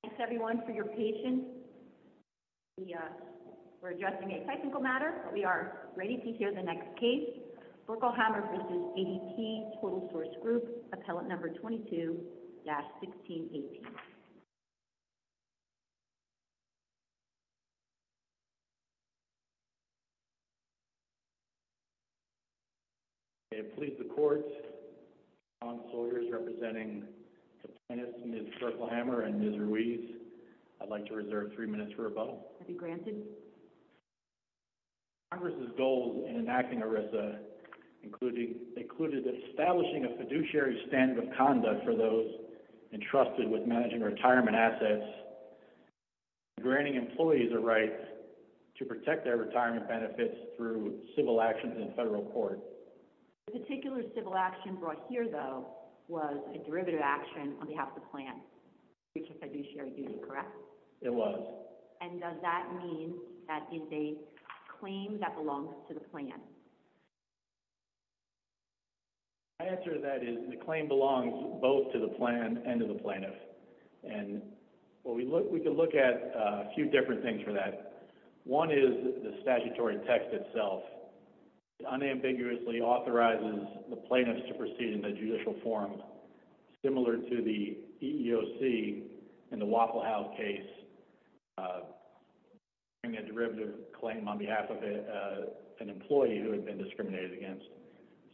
Thanks everyone for your patience. We're addressing a technical matter, but we are ready to hear the next case. Berkelhammer v. ADP Total Source Group, appellant number 22-1618. Appellant number 22-1618. I plead the court that John Sawyers, representing the plaintiffs, Ms. Berkelhammer and Ms. Ruiz, I'd like to reserve three minutes for rebuttal. Be granted. Congress' goals in enacting ERISA included establishing a fiduciary standard of conduct for those entrusted with managing retirement assets, granting employees a right to protect their retirement benefits through civil actions in federal court. The particular civil action brought here, though, was a derivative action on behalf of the plan. It's a fiduciary duty, correct? It was. And does that mean that it's a claim that belongs to the plan? My answer to that is the claim belongs both to the plan and to the plaintiff. And we can look at a few different things for that. One is the statutory text itself. It unambiguously authorizes the plaintiffs to proceed in a judicial forum, similar to the EEOC in the Waffle House case, bringing a derivative claim on behalf of an employee who had been discriminated against.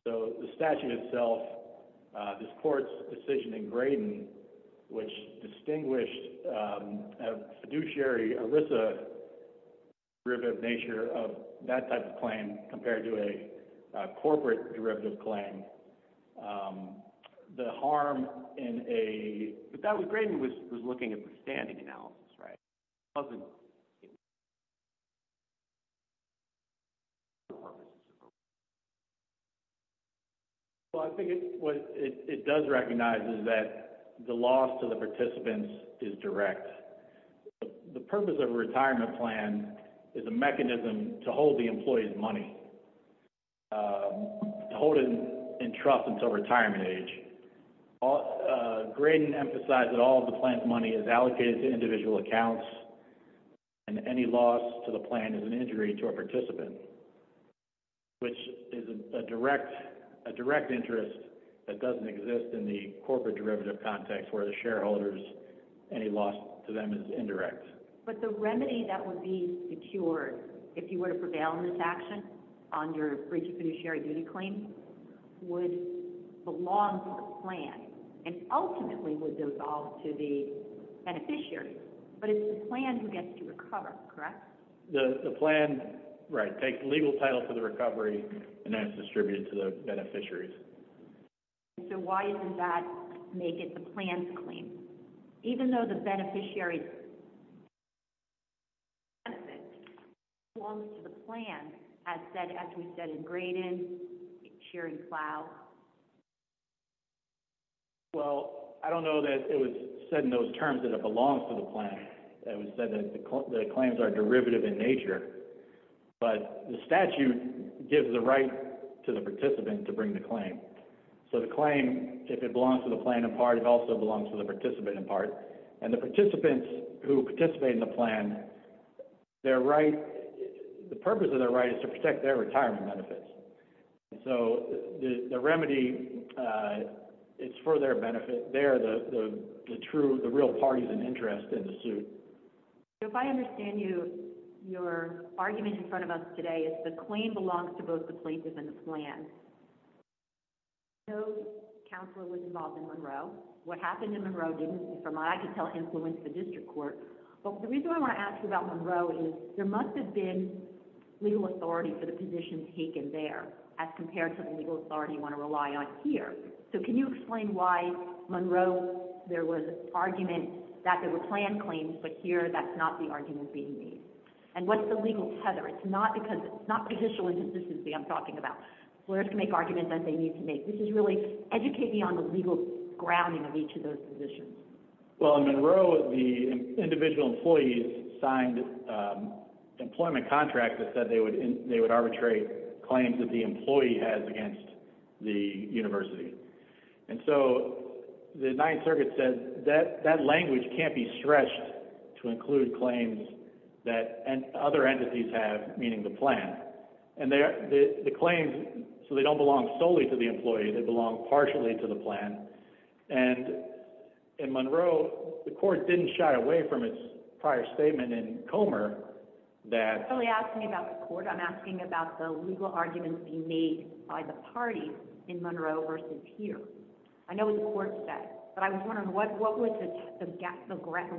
So the statute itself, this court's decision in Graydon, which distinguished a fiduciary ERISA derivative nature of that type of claim compared to a corporate derivative claim, the harm in a – but that was – Graydon was looking at the standing analysis, right? It wasn't – Well, I think what it does recognize is that the loss to the participants is direct. The purpose of a retirement plan is a mechanism to hold the employee's money, to hold it in trust until retirement age. Graydon emphasized that all of the plan's money is allocated to individual accounts, and any loss to the plan is an injury to a participant, which is a direct interest that doesn't exist in the corporate derivative context where the shareholder's – any loss to them is indirect. But the remedy that would be secured if you were to prevail in this action under a free fiduciary duty claim would belong to the plan, and ultimately would dissolve to the beneficiaries, but it's the plan who gets to recover, correct? The plan, right, takes legal title for the recovery and then it's distributed to the beneficiaries. And so why doesn't that make it the plan's claim? Even though the beneficiary's benefit belongs to the plan, as said – as we said in Graydon's sharing plan? Well, I don't know that it was said in those terms that it belongs to the plan. It was said that the claims are derivative in nature, but the statute gives the right to the participant to bring the claim. So the claim, if it belongs to the plan in part, it also belongs to the participant in part. And the participants who participate in the plan, their right – the purpose of their right is to protect their retirement benefits. And so the remedy, it's for their benefit. They're the true – the real parties in interest in the suit. So if I understand you, your argument in front of us today is the claim belongs to both the plaintiff and the plan. No counselor was involved in Monroe. What happened in Monroe didn't, from what I could tell, influence the district court. But the reason I want to ask you about Monroe is there must have been legal authority for the position taken there, as compared to the legal authority you want to rely on here. So can you explain why Monroe there was argument that there were plan claims, but here that's not the argument being made? And what's the legal tether? It's not because – it's not judicial inconsistency I'm talking about. Lawyers can make arguments that they need to make. This is really educating on the legal grounding of each of those positions. Well, in Monroe, the individual employees signed employment contracts that said they would arbitrate claims that the employee has against the university. And so the Ninth Circuit said that language can't be stretched to include claims that other entities have, meaning the plan. And the claims, so they don't belong solely to the employee, they belong partially to the plan. And in Monroe, the court didn't shy away from its prior statement in Comer that – You're not really asking me about the court. I'm asking about the legal arguments being made by the parties in Monroe versus here. I know what the court said, but I was wondering what was the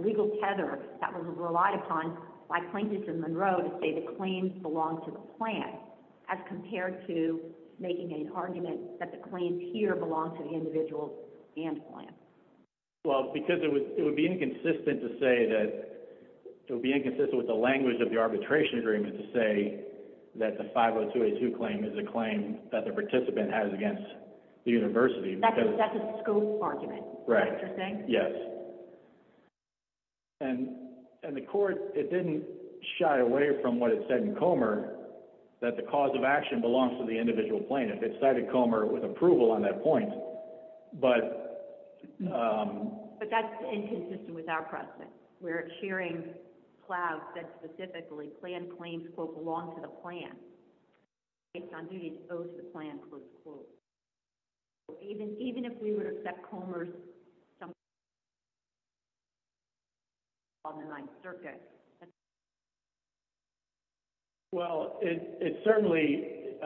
legal tether that was relied upon by plaintiffs in Monroe to say the claims belong to the plan as compared to making an argument that the claims here belong to the individual and plan? Well, because it would be inconsistent to say that – it would be inconsistent with the language of the arbitration agreement to say that the 50282 claim is a claim that the participant has against the university because – That's a scope argument, is that what you're saying? Right, yes. And the court, it didn't shy away from what it said in Comer that the cause of action belongs to the individual plaintiff. It cited Comer with approval on that point, but – But that's inconsistent with our precedent, where the sharing clause said specifically, plan claims, quote, belong to the plan based on duties owed to the plan, close quote. Even if we would accept Comer's – on the Ninth Circuit. Well, it certainly –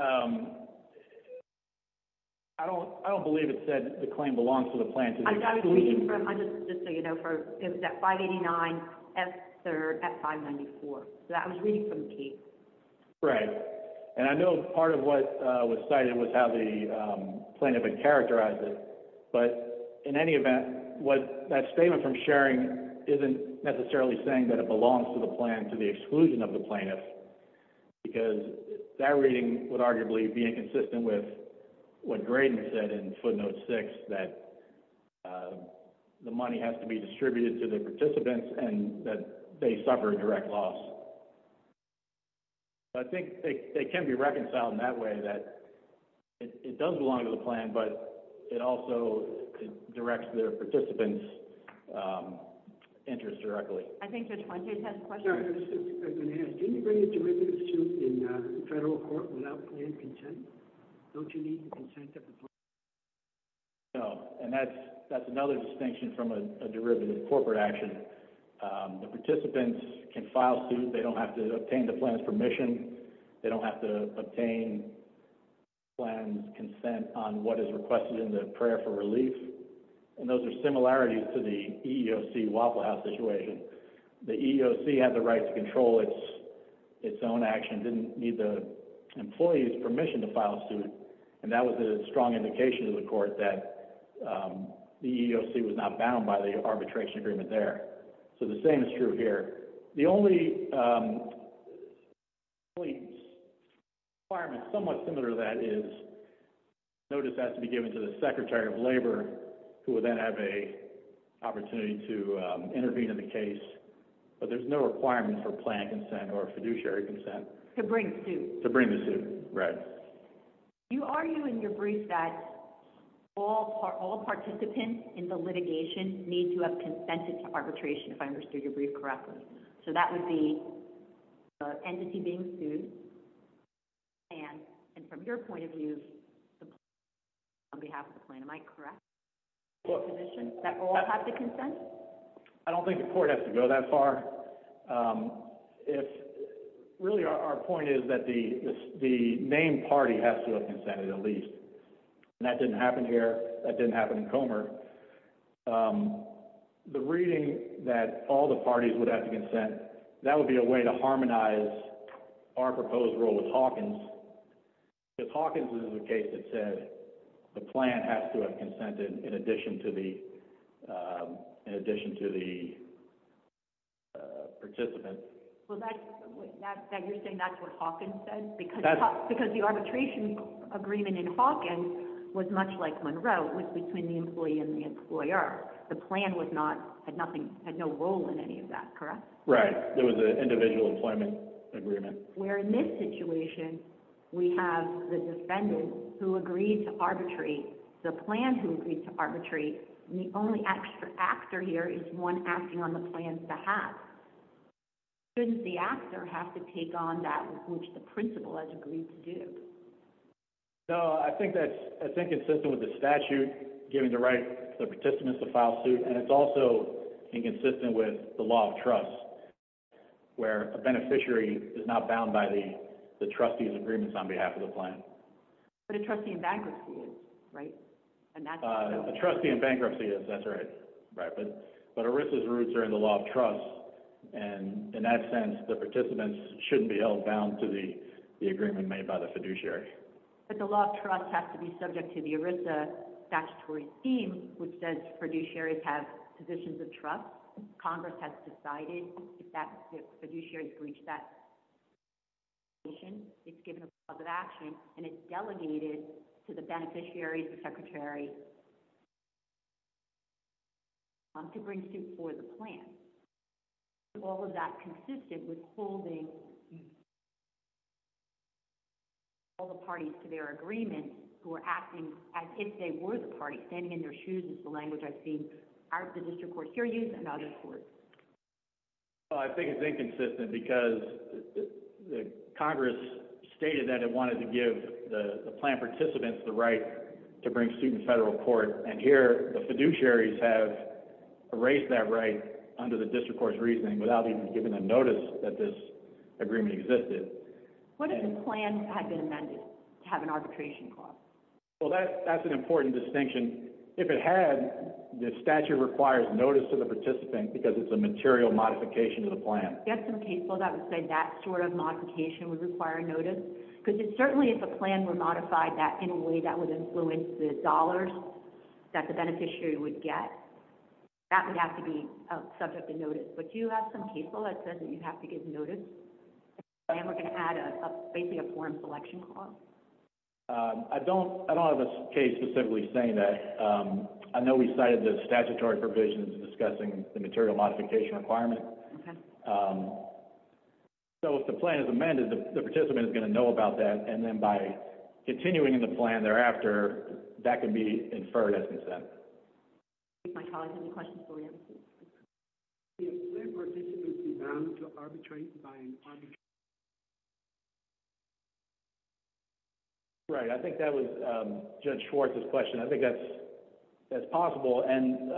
I don't believe it said the claim belongs to the plaintiff. I was reading from – just so you know, it was at 589, F3rd, F594. So that was reading from the case. Right. And I know part of what was cited was how the plaintiff had characterized it. But in any event, that statement from sharing isn't necessarily saying that it belongs to the plan to the exclusion of the plaintiff because that reading would arguably be inconsistent with what Graydon said in footnote 6, that the money has to be distributed to the participants and that they suffer a direct loss. I think it can be reconciled in that way, that it does belong to the plan, but it also directs the participants' interest directly. I think Judge Fontaine has a question. I was just going to ask, do you need a derivative suit in federal court without plan consent? Don't you need the consent of the plaintiff? No. And that's another distinction from a derivative corporate action. The participants can file suit. They don't have to obtain the plan's permission. They don't have to obtain the plan's consent on what is requested in the prayer for relief. And those are similarities to the EEOC Waffle House situation. The EEOC had the right to control its own action, didn't need the employee's permission to file suit. And that was a strong indication to the court that the EEOC was not bound by the arbitration agreement there. So the same is true here. The only requirement somewhat similar to that is notice has to be given to the Secretary of Labor, who would then have an opportunity to intervene in the case. But there's no requirement for plan consent or fiduciary consent. To bring suit. To bring the suit, right. You argue in your brief that all participants in the litigation need to have consented to arbitration, if I understood your brief correctly. So that would be the entity being sued and, from your point of view, the plan on behalf of the plan. Am I correct? That all have to consent? I don't think the court has to go that far. Really, our point is that the named party has to have consented at least. The reading that all the parties would have to consent, that would be a way to harmonize our proposed rule with Hawkins. Because Hawkins is a case that said the plan has to have consented in addition to the participants. Well, you're saying that's what Hawkins said? Because the arbitration agreement in Hawkins was much like Monroe, it was between the employee and the employer. The plan had no role in any of that, correct? Right, it was an individual employment agreement. Where in this situation, we have the defendant who agreed to arbitrate, the plan who agreed to arbitrate, and the only extra actor here is one acting on the plan's behalf. Shouldn't the actor have to take on that which the principal has agreed to do? No, I think that's inconsistent with the statute giving the right to the participants to file suits, and it's also inconsistent with the law of trust, where a beneficiary is not bound by the trustee's agreements on behalf of the plan. But a trustee in bankruptcy is, right? A trustee in bankruptcy is, that's right. Right, but ERISA's roots are in the law of trust, and in that sense, the participants shouldn't be held bound to the agreement made by the fiduciary. But the law of trust has to be subject to the ERISA statutory theme, which says fiduciaries have positions of trust. Congress has decided if the fiduciary has breached that, it's given a clause of action, and it's delegated to the beneficiary, the secretary, to bring suit for the plan. All of that consisted with holding all the parties to their agreements, who are acting as if they were the party, standing in their shoes is the language I've seen out of the district court hearings and other courts. I think it's inconsistent because Congress stated that it wanted to give the plan participants the right to bring suit in federal court, and here, the fiduciaries have erased that right under the district court's reasoning, without even giving them notice that this agreement existed. What if the plan had been amended to have an arbitration clause? Well, that's an important distinction. If it had, the statute requires notice to the participant because it's a material modification to the plan. You have some case law that would say that sort of modification would require notice? Because certainly if a plan were modified in a way that would influence the dollars that the beneficiary would get, that would have to be subject to notice. But do you have some case law that says that you have to give notice? And we're going to add basically a form selection clause. I don't have a case specifically saying that. I know we cited the statutory provisions discussing the material modification requirement. So if the plan is amended, the participant is going to know about that, and then by continuing in the plan thereafter, that can be inferred as consent. If plan participants are bound to arbitrate by an arbitration clause, would they be allowed to participate in the plan? Right. I think that was Judge Schwartz's question. I think that's possible, and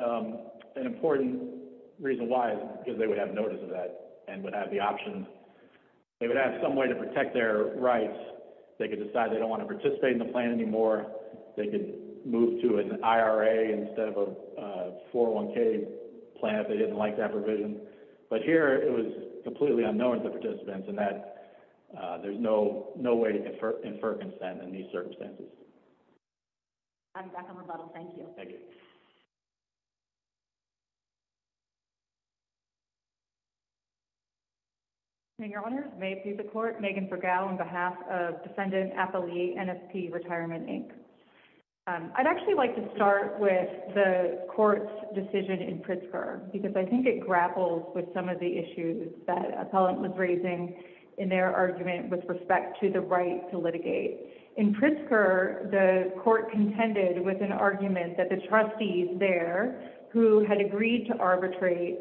an important reason why is because they would have notice of that and would have the option. They would have some way to protect their rights. They could decide they don't want to participate in the plan anymore. They could move to an IRA instead of a 401k plan if they didn't like that provision. But here, it was completely unknown to the participants, and there's no way to infer consent in these circumstances. I'm back on rebuttal. Thank you. Thank you. Your Honor, may it please the Court, Megan Fergal on behalf of Defendant Appellee, NSP Retirement, Inc. I'd actually like to start with the Court's decision in Pritzker because I think it grapples with some of the issues that appellant was raising in their argument with respect to the right to litigate. In Pritzker, the Court contended with an argument that the trustees there who had agreed to arbitrate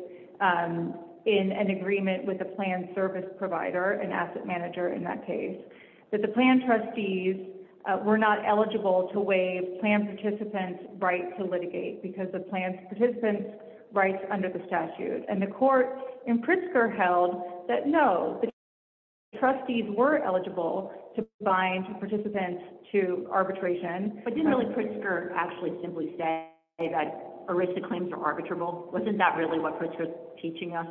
in an agreement with a plan service provider, an asset manager in that case, that the plan trustees were not eligible to waive plan participants' right to litigate because of plan participants' rights under the statute. And the Court in Pritzker held that, no, the trustees were eligible to bind participants to arbitration. But didn't really Pritzker actually simply say that arrested claims are arbitrable? Wasn't that really what Pritzker was teaching us?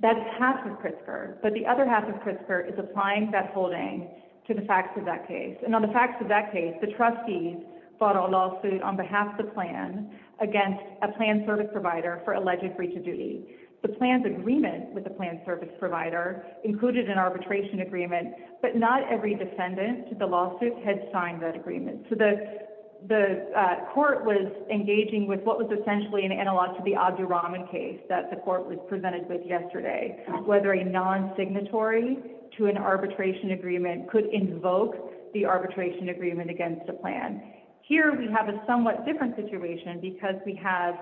That's half of Pritzker. But the other half of Pritzker is applying that holding to the facts of that case. And on the facts of that case, the trustees fought a lawsuit on behalf of the plan against a plan service provider for alleged breach of duty. The plan's agreement with the plan service provider included an arbitration agreement, but not every defendant to the lawsuit had signed that agreement. So the Court was engaging with what was essentially an analog to the Abdi Rahman case that the Court was presented with yesterday, whether a non-signatory to an arbitration agreement could invoke the arbitration agreement against a plan. Here we have a somewhat different situation because we have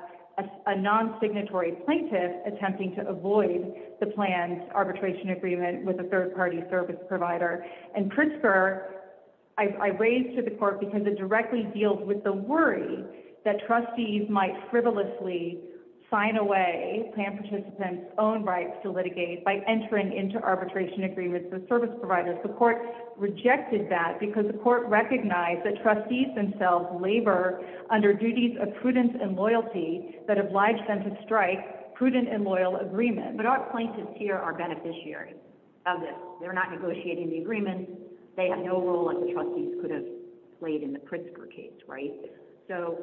a non-signatory plaintiff attempting to avoid the plan's arbitration agreement with a third-party service provider. And Pritzker I raised to the Court because it directly deals with the worry that trustees might frivolously sign away plan participants' own rights to litigate by entering into arbitration agreements with service providers. The Court rejected that because the Court recognized that trustees themselves labor under duties of prudence and loyalty that oblige them to strike prudent and loyal agreements. But our plaintiffs here are beneficiaries of this. They're not negotiating the agreement. They have no role like the trustees could have played in the Pritzker case, right? So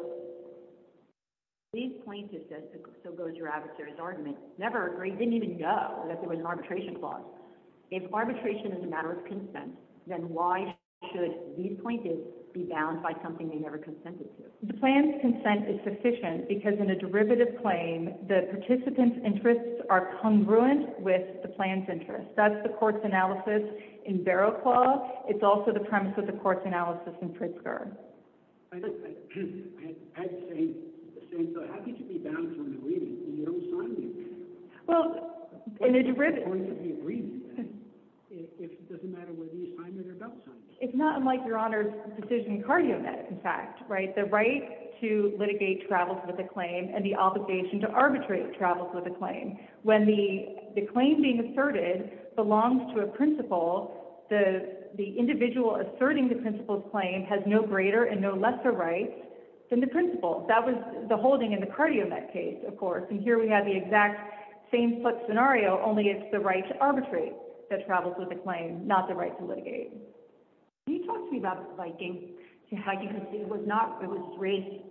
these plaintiffs, as so goes your adversary's argument, never agreed, didn't even know that there was an arbitration clause. If arbitration is a matter of consent, then why should these plaintiffs be bound by something they never consented to? The plan's consent is sufficient because in a derivative claim, the participants' interests are congruent with the plan's interests. That's the Court's analysis in Barrow Clause. It's also the premise of the Court's analysis in Pritzker. I was saying, so how could you be bound to an agreement when you don't sign the agreement? Well, in a derivative— It's going to be an agreement, then, if it doesn't matter whether you sign it or don't sign it. It's not unlike Your Honor's decision in Cardiomet, in fact, right? The right to litigate travels with a claim and the obligation to arbitrate travels with a claim. When the claim being asserted belongs to a principal, the individual asserting the principal's claim has no greater and no lesser rights than the principal. And here we have the exact same scenario, only it's the right to arbitrate that travels with the claim, not the right to litigate. Can you talk to me about Viking? Viking was not—it was raised—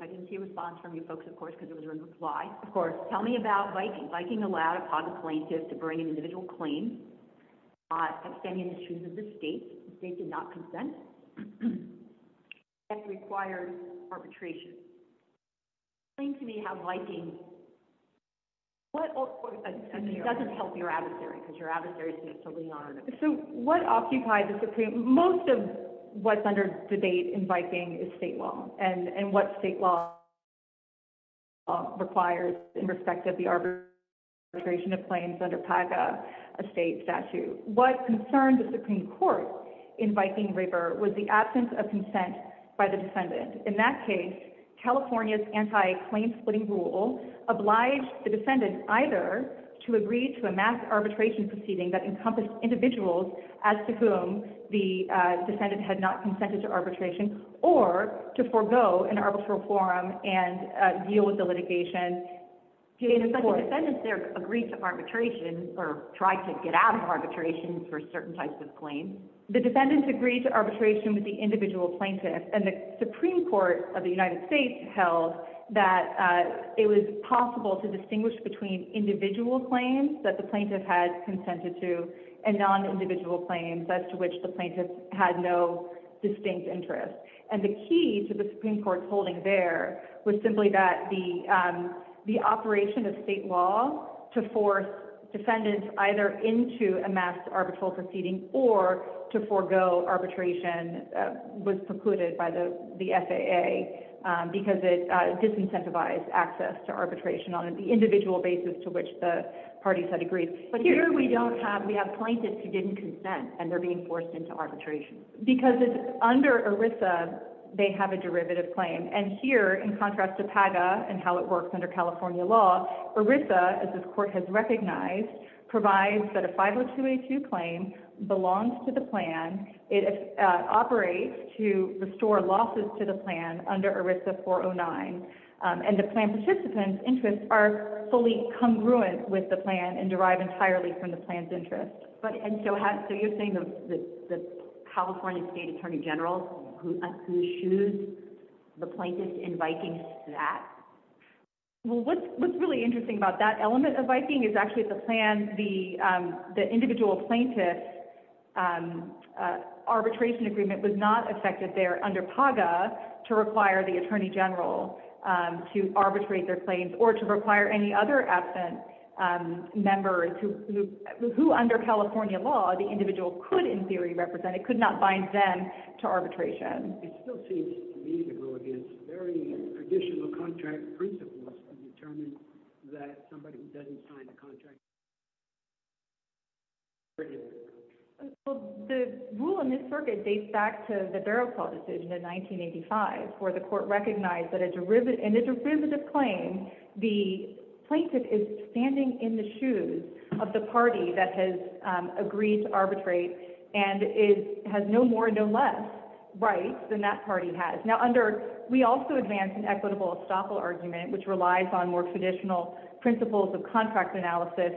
I didn't see a response from you folks, of course, because it was in reply. Of course. Tell me about Viking. Viking allowed a positive plaintiff to bring an individual claim, not outstanding issues of the state. The state did not consent. It requires arbitration. Explain to me how Viking— It doesn't help your adversary, because your adversary is going to have to lean on it. So what occupied the Supreme— Most of what's under debate in Viking is state law, and what state law requires in respect of the arbitration of claims under PACA, a state statute. What concerned the Supreme Court in Viking River was the absence of consent by the defendant. In that case, California's anti-claim-splitting rule obliged the defendant either to agree to a mass arbitration proceeding that encompassed individuals as to whom the defendant had not consented to arbitration, or to forego an arbitral forum and deal with the litigation. But the defendants there agreed to arbitration, or tried to get out of arbitration for certain types of claims. The defendants agreed to arbitration with the individual plaintiff, and the Supreme Court of the United States held that it was possible to distinguish between individual claims that the plaintiff had consented to and non-individual claims as to which the plaintiff had no distinct interest. And the key to the Supreme Court's holding there was simply that the operation of state law to force defendants either into a mass arbitral proceeding or to forego arbitration was precluded by the FAA because it disincentivized access to arbitration on an individual basis to which the parties had agreed. But here we have plaintiffs who didn't consent, and they're being forced into arbitration. Because under ERISA, they have a derivative claim. And here, in contrast to PAGA and how it works under California law, ERISA, as this court has recognized, provides that a 50282 claim belongs to the plan. It operates to restore losses to the plan under ERISA 409. And the plan participant's interests are fully congruent with the plan and derive entirely from the plan's interest. And so you're saying the California State Attorney General, who shoes the plaintiffs in Vikings to that? Well, what's really interesting about that element of Viking is actually that the individual plaintiff's arbitration agreement was not affected there under PAGA to require the Attorney General to arbitrate their claims or to require any other absent member who, under California law, the individual could, in theory, represent. It could not bind them to arbitration. It still seems to me to go against very traditional contract principles to determine that somebody who doesn't sign a contract should never enter the country. Well, the rule in this circuit dates back to the Barrow Clause decision in 1985, where the court recognized that in a derivative claim, the plaintiff is standing in the shoes of the party that has agreed to arbitrate and has no more and no less rights than that party has. Now, we also advance an equitable estoppel argument, which relies on more traditional principles of contract analysis.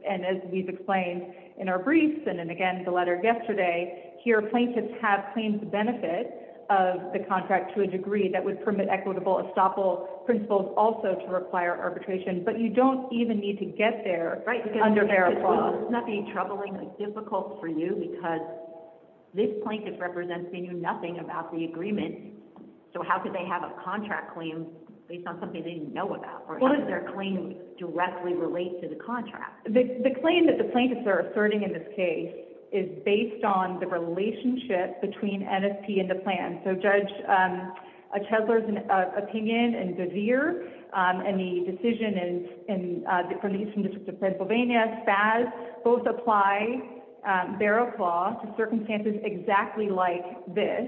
And as we've explained in our briefs and in, again, the letter yesterday, here, plaintiffs have claimed the benefit of the contract to a degree that would permit equitable estoppel principles also to require arbitration, but you don't even need to get there under Barrow Clause. Wouldn't that be troubling or difficult for you? Because this plaintiff represents they knew nothing about the agreement, so how could they have a contract claim based on something they didn't know about? Or how does their claim directly relate to the contract? The claim that the plaintiffs are asserting in this case is based on the relationship between NSP and the plan. So Judge Chesler's opinion and Gavir and the decision from the District of Pennsylvania, SPAS, both apply Barrow Clause to circumstances exactly like this,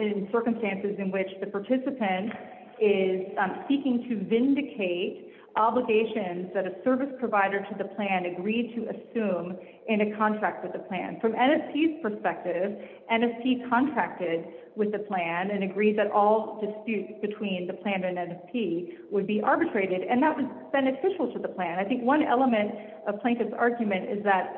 in circumstances in which the participant is seeking to vindicate obligations that a service provider to the plan agreed to assume in a contract with the plan. From NSP's perspective, NSP contracted with the plan and agreed that all disputes between the plan and NSP would be arbitrated, and that was beneficial to the plan. I think one element of plaintiff's argument is that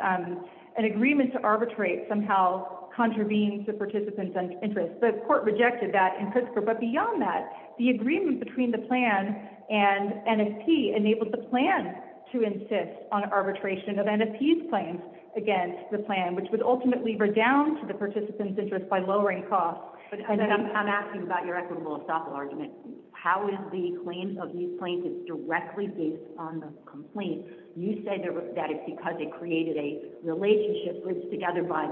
an agreement to arbitrate somehow contravenes the participant's interest. The court rejected that in Pritzker, but beyond that, the agreement between the plan and NSP enabled the plan to insist on arbitration of NSP's claims against the plan, which would ultimately redoubt the participant's interest by lowering costs. I'm asking about your equitable estoppel argument. How is the claim of these plaintiffs directly based on the complaint? You said that it's because it created a relationship put together by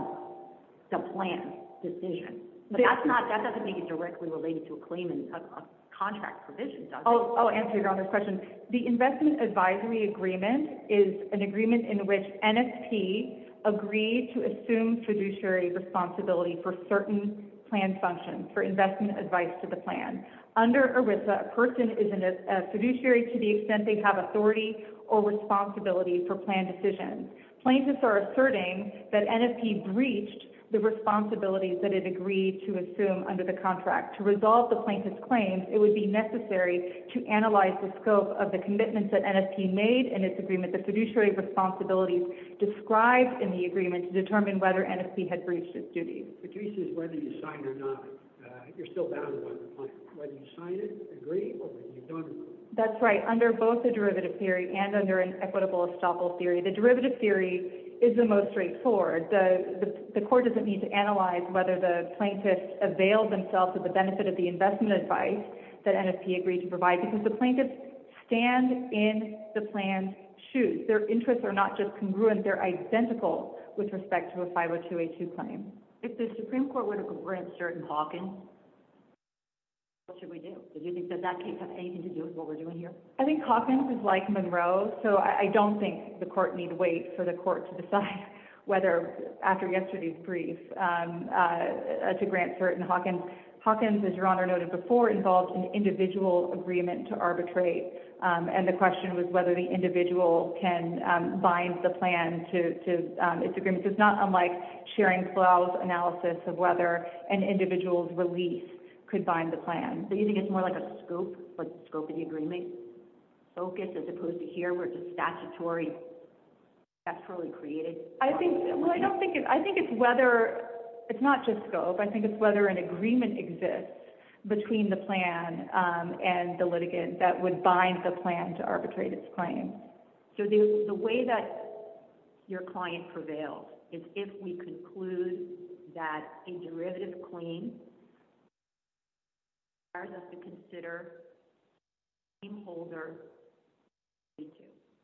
the plan's decision. But that doesn't make it directly related to a claim in a contract provision, does it? Oh, to answer your earlier question, the investment advisory agreement is an agreement in which NSP agreed to assume fiduciary responsibility for certain plan functions, for investment advice to the plan. Under ERISA, a person is a fiduciary to the extent they have authority or responsibility for plan decisions. Plaintiffs are asserting that NSP breached the responsibilities that it agreed to assume under the contract. To resolve the plaintiff's claims, it would be necessary to analyze the scope of the commitments that NSP made in its agreement. The fiduciary responsibilities described in the agreement to determine whether NSP had breached its duties. The case is whether you signed or not. You're still bound by the plan. Whether you signed it, agreed, or whether you don't agree. That's right. Under both the derivative theory and under an equitable estoppel theory, the derivative theory is the most straightforward. The court doesn't need to analyze whether the plaintiffs availed themselves of the benefit of the investment advice that NSP agreed to provide because the plaintiffs stand in the plan's shoes. Their interests are not just congruent, they're identical with respect to a 502A2 claim. If the Supreme Court were to grant cert in Hawkins, what should we do? Do you think that that case has anything to do with what we're doing here? I think Hawkins is like Monroe, so I don't think the court need wait for the court to decide whether after yesterday's brief to grant cert in Hawkins. Hawkins, as Your Honor noted before, involved an individual agreement to arbitrate. The question was whether the individual can bind the plan to its agreement. It's not unlike Schering-Plough's analysis of whether an individual's release could bind the plan. Do you think it's more like a scope, like scope of the agreement, focus as opposed to here where it's statutory, naturally created? I think it's whether, it's not just scope, I think it's whether an agreement exists between the plan and the litigant that would bind the plan to arbitrate its claim. So the way that your client prevails is if we conclude that a derivative claim requires us to consider the claim holder's 502.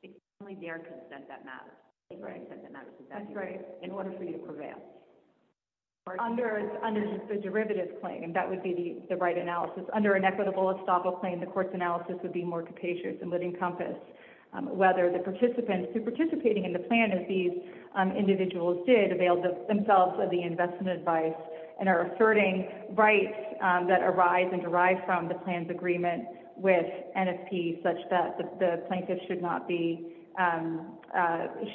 It's only their consent that matters. That's right. In order for you to prevail. Under the derivative claim, that would be the right analysis. Under an equitable estoppel claim, the court's analysis would be more capacious and would encompass whether the participants who are participating in the plan as these individuals did avail themselves of the investment advice, and are asserting rights that arise and derive from the plan's agreement with NFP such that the plaintiff should not be,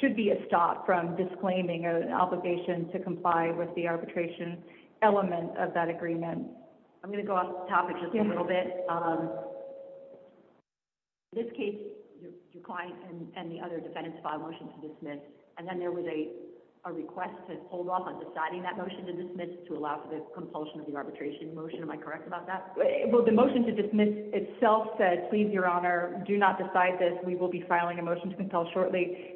should be estopped from disclaiming an obligation to comply with the arbitration element of that agreement. I'm going to go off topic just a little bit. In this case, your client and the other defendants filed a motion to dismiss, and then there was a request to hold off on deciding that motion to dismiss to allow for the compulsion of the arbitration motion. Am I correct about that? Well, the motion to dismiss itself said, please, your honor, do not decide this. We will be filing a motion to compel shortly.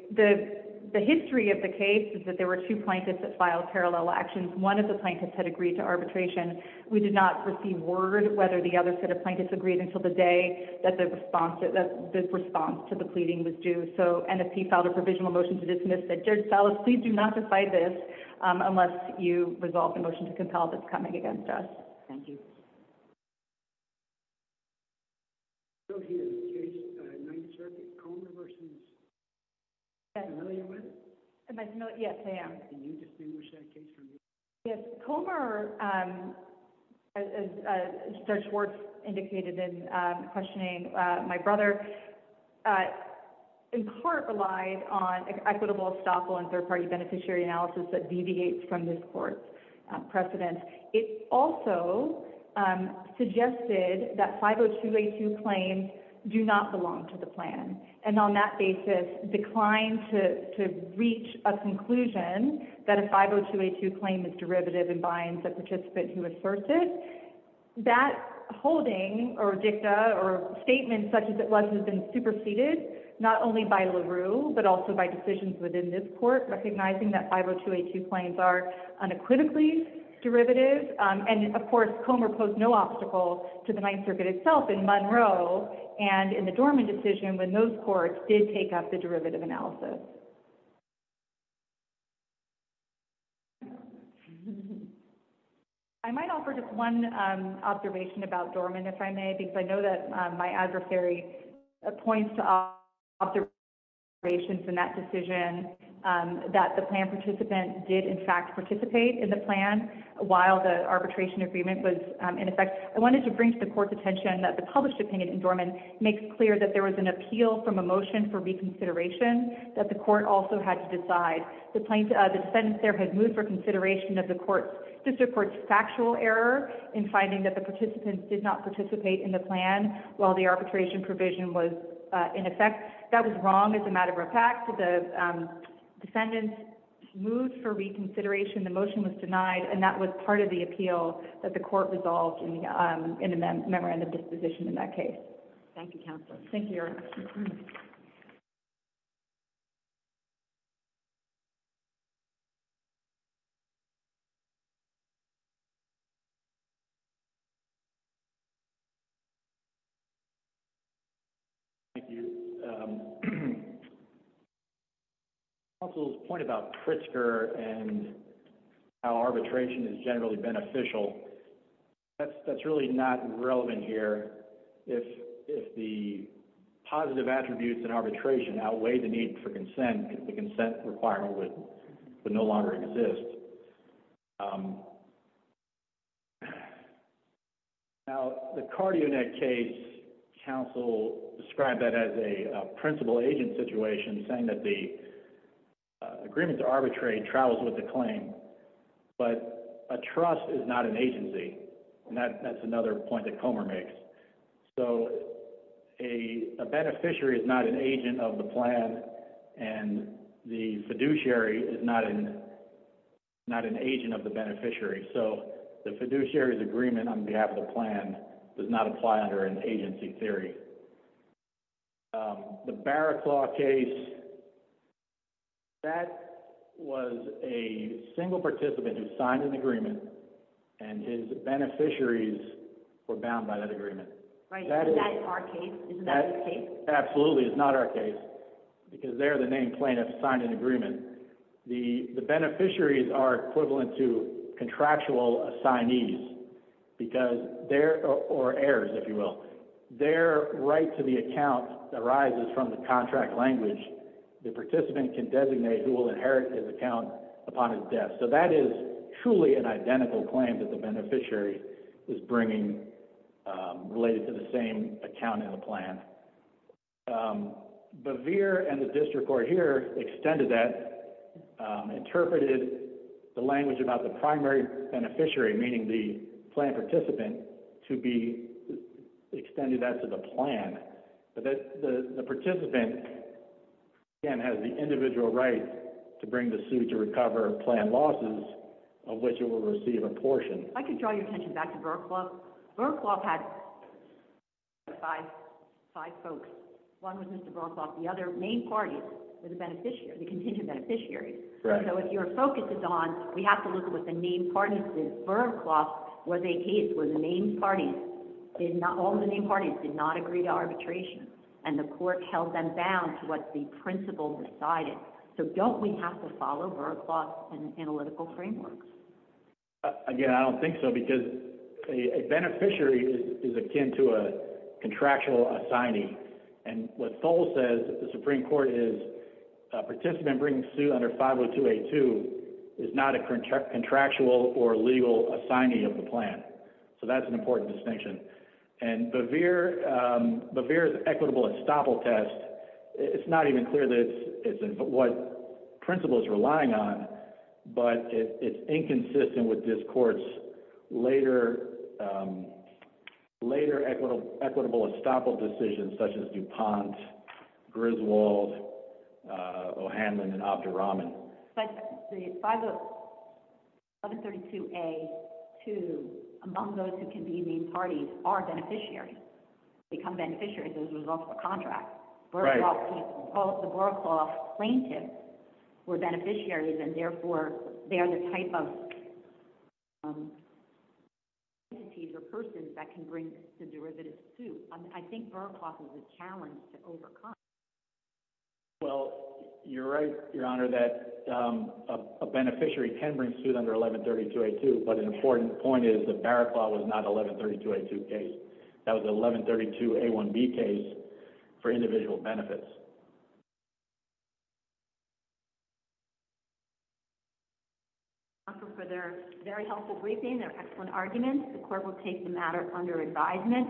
The history of the case is that there were two plaintiffs that filed parallel actions. One of the plaintiffs had agreed to arbitration. We did not receive word whether the other set of plaintiffs agreed until the day that the response, that this response to the pleading was due. So, NFP filed a provisional motion to dismiss that. Judge Salas, please do not decide this unless you resolve the motion to compel that's coming against us. Thank you. So here's the case, Ninth Circuit. Comer versus? Yes. Familiar with? Am I familiar? Yes, I am. Can you distinguish that case from this one? Yes. Comer, as Judge Schwartz indicated in questioning my brother, in part relied on equitable estoppel and third-party beneficiary analysis that deviates from this court's precedent. It also suggested that 502A2 claims do not belong to the plan, and on that basis declined to reach a conclusion that a 502A2 claim is derivative and binds a participant who asserts it. That holding, or dicta, or statement such as it was has been superseded not only by LaRue, but also by decisions within this court recognizing that 502A2 claims are unequivocally derivative. And, of course, Comer posed no obstacle to the Ninth Circuit itself in Monroe and in the Dorman decision when those courts did take up the derivative analysis. I might offer just one observation about Dorman, if I may, because I know that my adversary points to observations in that decision that the plan participant did, in fact, participate in the plan while the arbitration agreement was in effect. I wanted to bring to the court's attention that the published opinion in Dorman makes clear that there was an appeal from a motion for reconsideration that the court also had to decide. The defendant there had moved for consideration of the court's factual error in finding that the participants did not participate in the plan while the arbitration provision was in effect. That was wrong as a matter of fact. The defendant moved for reconsideration, the motion was denied, and that was part of the appeal that the court resolved in the memorandum of disposition in that case. Thank you, Counsel. Thank you, Your Honor. Thank you. Counsel's point about Pritzker and how arbitration is generally beneficial, that's really not relevant here. If the positive attributes in arbitration outweigh the need for consent, the consent requirement would no longer exist. Now, the CardioNet case, Counsel described that as a principal-agent situation, saying that the agreement to arbitrate travels with the claim, but a trust is not an agency, and that's another point that Comer makes. A beneficiary is not an agent of the plan, and the fiduciary is not an agent of the beneficiary, so the fiduciary's agreement on behalf of the plan does not apply under an agency theory. The Barraclaw case, that was a single participant who signed an agreement, and his beneficiaries were bound by that agreement. Right, but that's our case. Isn't that our case? Absolutely, it's not our case, because they're the named plaintiff who signed an agreement. The beneficiaries are equivalent to contractual assignees, or heirs, if you will. Their right to the account arises from the contract language. The participant can designate who will inherit his account upon his death. So that is truly an identical claim that the beneficiary is bringing related to the same account in the plan. Bevere and the district court here extended that, interpreted the language about the primary beneficiary, meaning the plan participant, to be extended that to the plan. But the participant, again, has the individual right to bring the suit to recover planned losses, of which it will receive a portion. If I could draw your attention back to Burraclaw, Burraclaw had five folks. One was Mr. Burraclaw, the other main parties were the beneficiary, the contingent beneficiaries. Correct. So if your focus is on, we have to look at what the main parties did. Burraclaw was a case where all the main parties did not agree to arbitration, and the court held them bound to what the principle decided. So don't we have to follow Burraclaw's analytical framework? Again, I don't think so, because a beneficiary is akin to a contractual assignee. And what Thole says, the Supreme Court is, a participant bringing suit under 50282 is not a contractual or legal assignee of the plan. So that's an important distinction. And Bevere's equitable estoppel test, it's not even clear what principle it's relying on, but it's inconsistent with this court's later equitable estoppel decisions, such as DuPont, Griswold, O'Hanlon, and Abdurrahman. But the 5132A-2, among those who can be main parties, are beneficiaries. They become beneficiaries as a result of a contract. Both the Burraclaw plaintiffs were beneficiaries, and therefore they are the type of entities or persons that can bring the derivative suit. I think Burraclaw has a challenge to overcome. Well, you're right, Your Honor, that a beneficiary can bring suit under 1132A-2. But an important point is that Burraclaw was not an 1132A-2 case. That was an 1132A-1B case for individual benefits. Thank you, Your Honor, for their very helpful briefing, their excellent arguments. The court will take the matter under advisement.